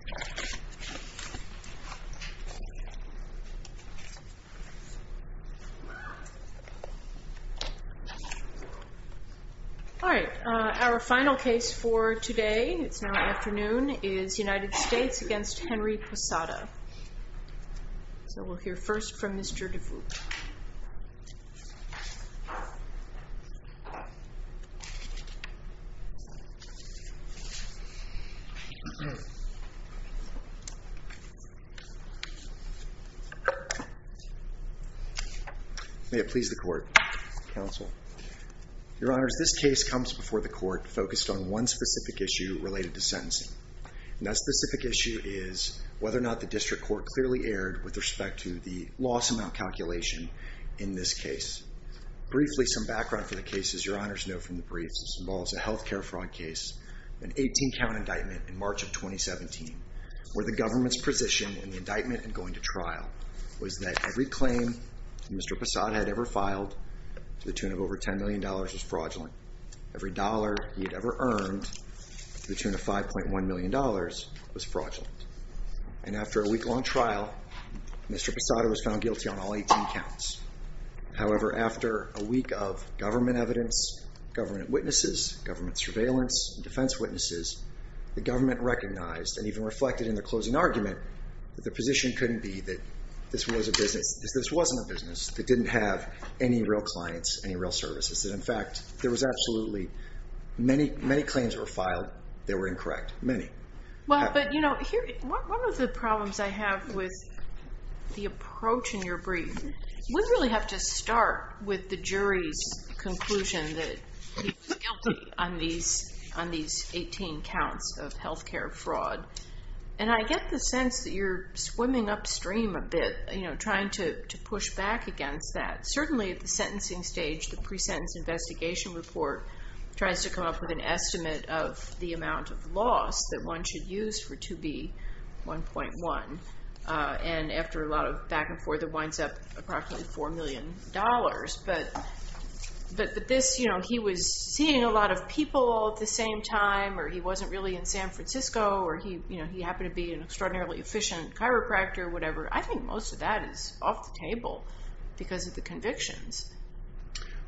All right, our final case for today, it's now afternoon, is United States v. Henry Posada. So we'll hear first from Mr. Dufout. May it please the court, counsel. Your honors, this case comes before the court focused on one specific issue related to sentencing. And that specific issue is whether or not the district court clearly erred with respect to the loss amount calculation in this case. Briefly, some background for the case, as your honors know from the briefs. This involves a healthcare fraud case, an 18-count indictment in March of 2017, where the government's position in the indictment and going to trial was that every claim Mr. Posada had ever filed to the tune of over $10 million was fraudulent. Every dollar he had ever earned to the tune of $5.1 million was fraudulent. And after a week-long trial, Mr. Posada was found guilty on all 18 counts. However, after a week of government evidence, government witnesses, government surveillance, and defense witnesses, the government recognized and even reflected in the closing argument that the position couldn't be that this was a business. This wasn't a business. It didn't have any real clients, any real services. And in fact, there was absolutely many claims that were filed that were incorrect. Many. Well, but one of the problems I have with the approach in your brief, you wouldn't really have to start with the jury's conclusion that he was guilty on these 18 counts of healthcare fraud. And I get the sense that you're swimming upstream a bit, trying to push back against that. But certainly at the sentencing stage, the pre-sentence investigation report tries to come up with an estimate of the amount of loss that one should use for 2B1.1. And after a lot of back and forth, it winds up approximately $4 million. But this, you know, he was seeing a lot of people at the same time, or he wasn't really in San Francisco, or he happened to be an extraordinarily efficient chiropractor, whatever. I think most of that is off the table because of the convictions.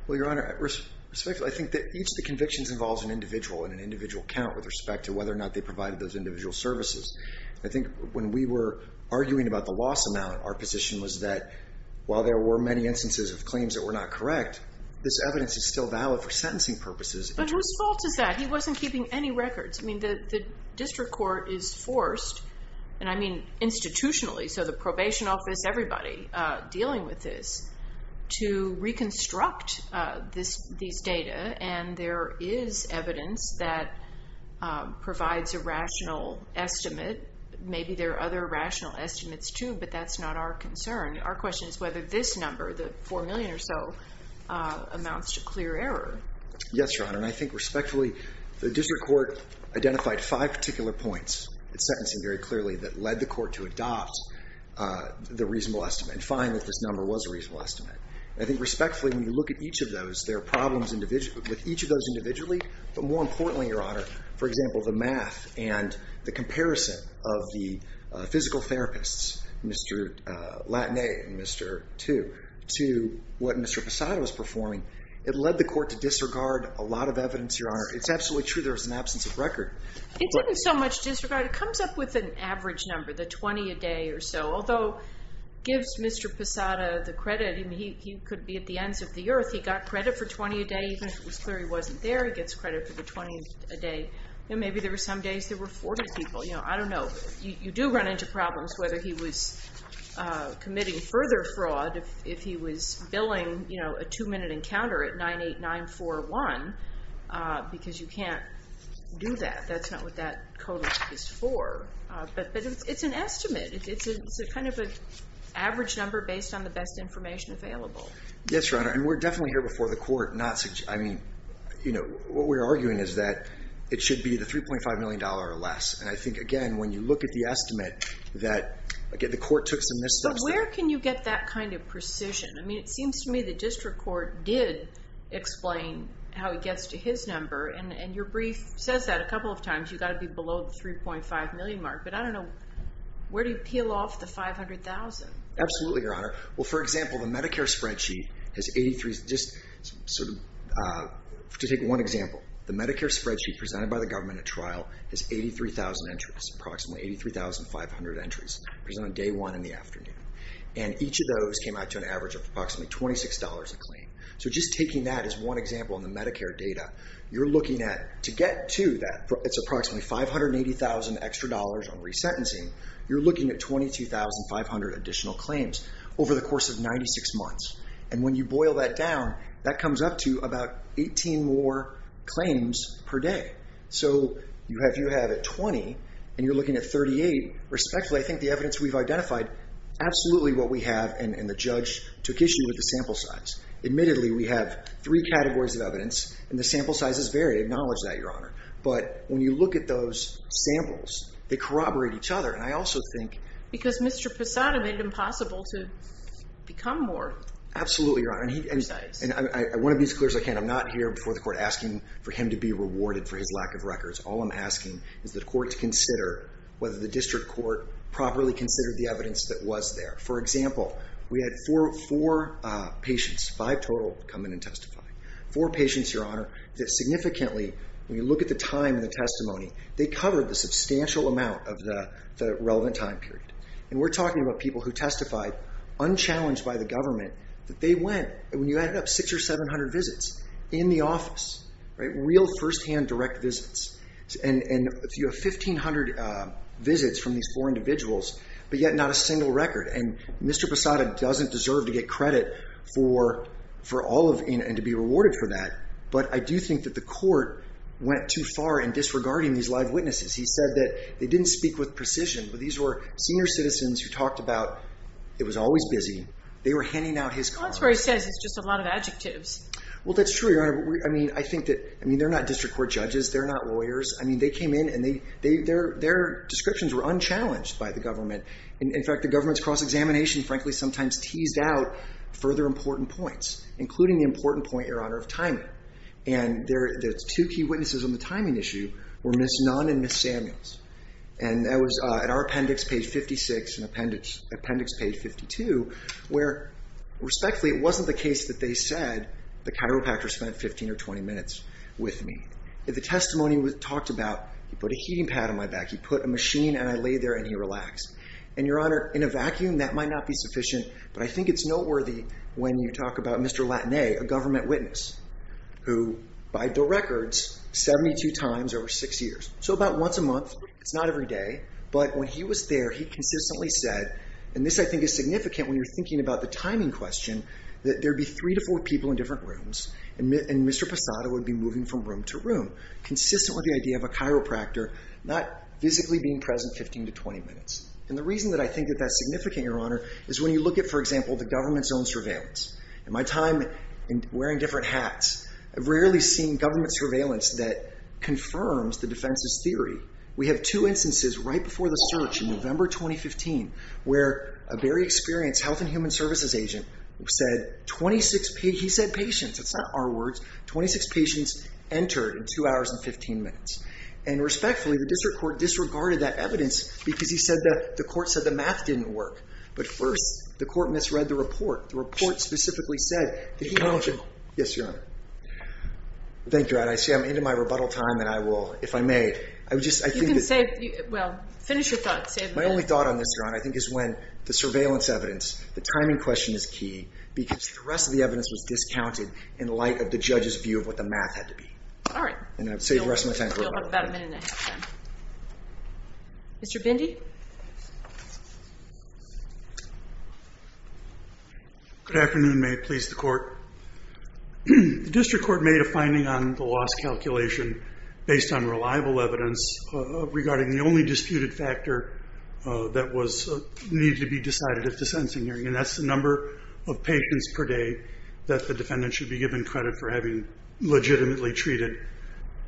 Well, Your Honor, respectfully, I think that each of the convictions involves an individual and an individual count with respect to whether or not they provided those individual services. I think when we were arguing about the loss amount, our position was that while there were many instances of claims that were not correct, this evidence is still valid for sentencing purposes. But whose fault is that? He wasn't keeping any records. I mean, the district court is forced, and I mean institutionally, so the probation office, everybody dealing with this, to reconstruct these data. And there is evidence that provides a rational estimate. Maybe there are other rational estimates, too, but that's not our concern. Our question is whether this number, the $4 million or so, amounts to clear error. Yes, Your Honor, and I think respectfully, the district court identified five particular points in sentencing very clearly that led the court to adopt the reasonable estimate and find that this number was a reasonable estimate. I think respectfully, when you look at each of those, there are problems with each of those individually. But more importantly, Your Honor, for example, the math and the comparison of the physical therapists, Mr. Latane and Mr. Tu, to what Mr. Posada was performing, it led the court to disregard a lot of evidence, Your Honor. It's absolutely true there was an absence of record. He didn't so much disregard. It comes up with an average number, the 20 a day or so, although gives Mr. Posada the credit. I mean, he could be at the ends of the earth. He got credit for 20 a day. Even if it was clear he wasn't there, he gets credit for the 20 a day. And maybe there were some days there were 40 people. I don't know. You do run into problems whether he was committing further fraud if he was billing a two-minute encounter at 98941 because you can't do that. That's not what that code is for. But it's an estimate. It's kind of an average number based on the best information available. Yes, Your Honor. And we're definitely here before the court. What we're arguing is that it should be the $3.5 million or less. And I think, again, when you look at the estimate that the court took some missteps there. But where can you get that kind of precision? I mean, it seems to me the district court did explain how it gets to his number. And your brief says that a couple of times. You've got to be below the $3.5 million mark. But I don't know. Where do you peel off the $500,000? Absolutely, Your Honor. Well, for example, the Medicare spreadsheet has 83. Just to take one example, the Medicare spreadsheet presented by the government at trial has 83,000 entries, approximately 83,500 entries, presented on day one in the afternoon. And each of those came out to an average of approximately $26 a claim. So just taking that as one example in the Medicare data, you're looking at, to get to that, it's approximately $580,000 extra dollars on resentencing. You're looking at 22,500 additional claims over the course of 96 months. And when you boil that down, that comes up to about 18 more claims per day. So if you have 20 and you're looking at 38, respectfully, I think the evidence we've identified, absolutely what we have, and the judge took issue with the sample size. Admittedly, we have three categories of evidence, and the sample sizes vary. Acknowledge that, Your Honor. But when you look at those samples, they corroborate each other. And I also think— Because Mr. Posada made it impossible to become more precise. Absolutely, Your Honor. And I want to be as clear as I can. I'm not here before the court asking for him to be rewarded for his lack of records. All I'm asking is the court to consider whether the district court properly considered the evidence that was there. Four patients, Your Honor, that significantly, when you look at the time of the testimony, they covered a substantial amount of the relevant time period. And we're talking about people who testified, unchallenged by the government, that they went, when you add it up, 600 or 700 visits in the office. Real, firsthand, direct visits. And you have 1,500 visits from these four individuals, but yet not a single record. And Mr. Posada doesn't deserve to get credit for all of—and to be rewarded for that. But I do think that the court went too far in disregarding these live witnesses. He said that they didn't speak with precision, but these were senior citizens who talked about it was always busy. They were handing out his comments. Well, that's what he says. It's just a lot of adjectives. Well, that's true, Your Honor. I mean, I think that—I mean, they're not district court judges. They're not lawyers. I mean, they came in, and their descriptions were unchallenged by the government. In fact, the government's cross-examination, frankly, sometimes teased out further important points, including the important point, Your Honor, of timing. And the two key witnesses on the timing issue were Ms. Nunn and Ms. Samuels. And that was at our appendix, page 56, and appendix page 52, where, respectfully, it wasn't the case that they said, the chiropractor spent 15 or 20 minutes with me. The testimony talked about, he put a heating pad on my back. He put a machine, and I lay there, and he relaxed. And, Your Honor, in a vacuum, that might not be sufficient, but I think it's noteworthy when you talk about Mr. Latané, a government witness, who, by the records, 72 times over six years. So about once a month. It's not every day. But when he was there, he consistently said—and this, I think, is significant when you're thinking about the timing question—that there'd be three to four people in different rooms, and Mr. Posada would be moving from room to room, consistent with the idea of a chiropractor not physically being present 15 to 20 minutes. And the reason that I think that that's significant, Your Honor, is when you look at, for example, the government's own surveillance. In my time wearing different hats, I've rarely seen government surveillance that confirms the defense's theory. We have two instances right before the search in November 2015 where a very experienced Health and Human Services agent said 26—he said patients. That's not our words. Twenty-six patients entered in two hours and 15 minutes. And respectfully, the district court disregarded that evidence because he said that the court said the math didn't work. But first, the court misread the report. The report specifically said that he— Yes, Your Honor. Thank you, Your Honor. I see I'm into my rebuttal time, and I will—if I may, I would just— You can save—well, finish your thoughts. My only thought on this, Your Honor, I think, is when the surveillance evidence, the timing question is key because the rest of the evidence was discounted in light of the judge's view of what the math had to be. All right. And I'd save the rest of my time for rebuttal. You'll have about a minute and a half, then. Mr. Bindi? Good afternoon. May it please the Court. The district court made a finding on the loss calculation based on reliable evidence regarding the only disputed factor that was—needed to be decided at the sentencing hearing, and that's the number of patients per day that the defendant should be given credit for having legitimately treated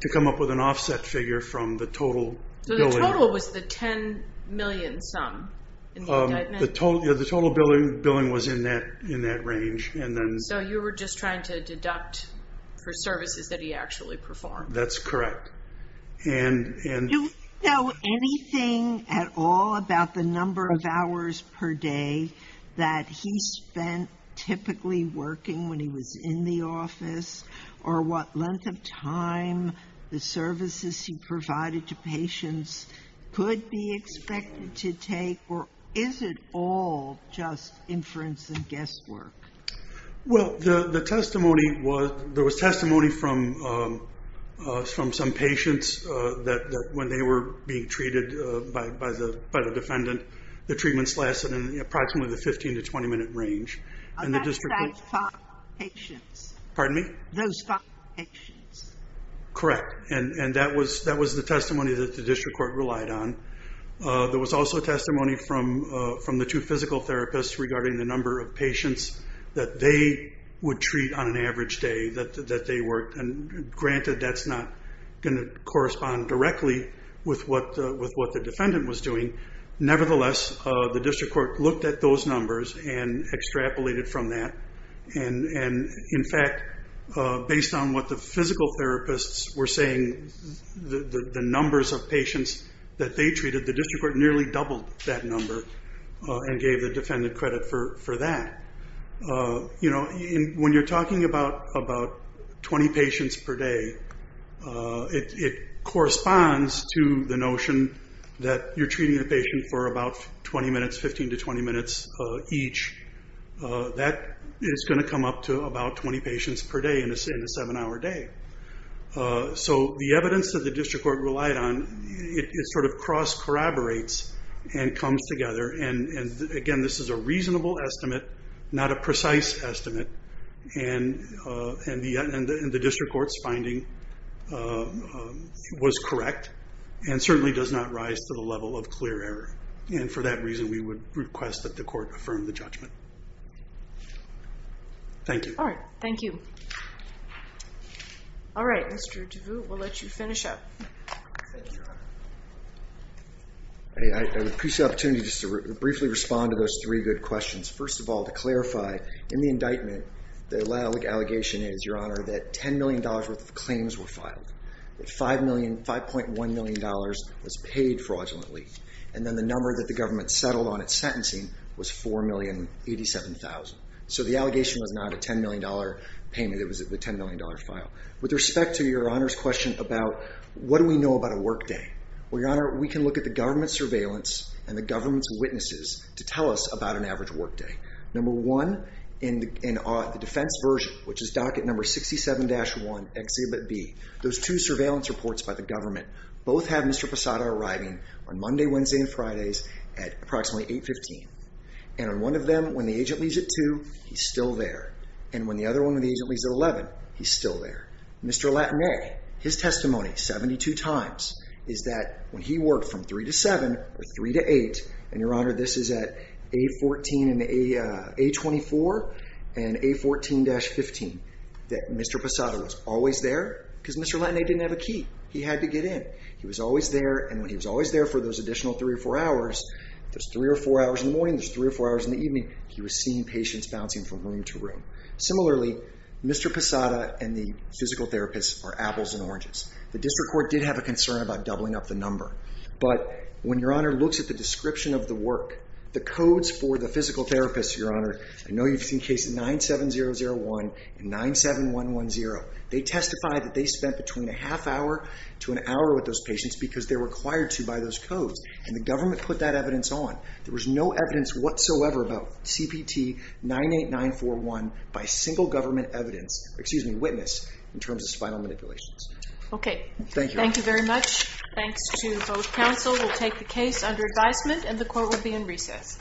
to come up with an offset figure from the total— So the total was the $10 million sum in the indictment? Yeah, the total billing was in that range, and then— So you were just trying to deduct for services that he actually performed? That's correct. Do you know anything at all about the number of hours per day that he spent typically working when he was in the office, or what length of time the services he provided to patients could be expected to take, or is it all just inference and guesswork? Well, the testimony was—there was testimony from some patients that when they were being treated by the defendant, the treatments lasted in approximately the 15- to 20-minute range, and the district— That's five patients. Pardon me? Those five patients. Correct, and that was the testimony that the district court relied on. There was also testimony from the two physical therapists regarding the number of patients that they would treat on an average day that they worked, and granted, that's not going to correspond directly with what the defendant was doing. nearly doubled that number and gave the defendant credit for that. When you're talking about 20 patients per day, it corresponds to the notion that you're treating the patient for about 20 minutes, 15- to 20-minutes each. That is going to come up to about 20 patients per day in a seven-hour day. The evidence that the district court relied on, it sort of cross-corroborates and comes together. Again, this is a reasonable estimate, not a precise estimate, and the district court's finding was correct and certainly does not rise to the level of clear error. For that reason, we would request that the court affirm the judgment. Thank you. All right, thank you. All right, Mr. DeVoot, we'll let you finish up. Thank you, Your Honor. I would appreciate the opportunity to briefly respond to those three good questions. First of all, to clarify, in the indictment, the allegation is, Your Honor, that $10 million worth of claims were filed. $5.1 million was paid fraudulently, and then the number that the government settled on at sentencing was $4,087,000. So the allegation was not a $10 million payment, it was a $10 million file. With respect to Your Honor's question about, what do we know about a workday? Well, Your Honor, we can look at the government surveillance and the government's witnesses to tell us about an average workday. Number one, in the defense version, which is docket number 67-1, Exhibit B, those two surveillance reports by the government, both have Mr. Posada arriving on Monday, Wednesday, and Fridays at approximately 815. And on one of them, when the agent leaves at 2, he's still there. And when the other one, when the agent leaves at 11, he's still there. Mr. Latané, his testimony, 72 times, is that when he worked from 3 to 7 or 3 to 8, and Your Honor, this is at A24 and A14-15, that Mr. Posada was always there because Mr. Latané didn't have a key. He had to get in. He was always there. And when he was always there for those additional three or four hours, there's three or four hours in the morning, there's three or four hours in the evening, he was seeing patients bouncing from room to room. Similarly, Mr. Posada and the physical therapist are apples and oranges. The district court did have a concern about doubling up the number. But when Your Honor looks at the description of the work, the codes for the physical therapist, Your Honor, I know you've seen cases 97001 and 97110. They testified that they spent between a half hour to an hour with those patients because they're required to by those codes. And the government put that evidence on. There was no evidence whatsoever about CPT-98941 by single government evidence, excuse me, witness, in terms of spinal manipulations. Okay. Thank you, Your Honor. Thank you very much. Thanks to both counsel. We'll take the case under advisement and the court will be in recess.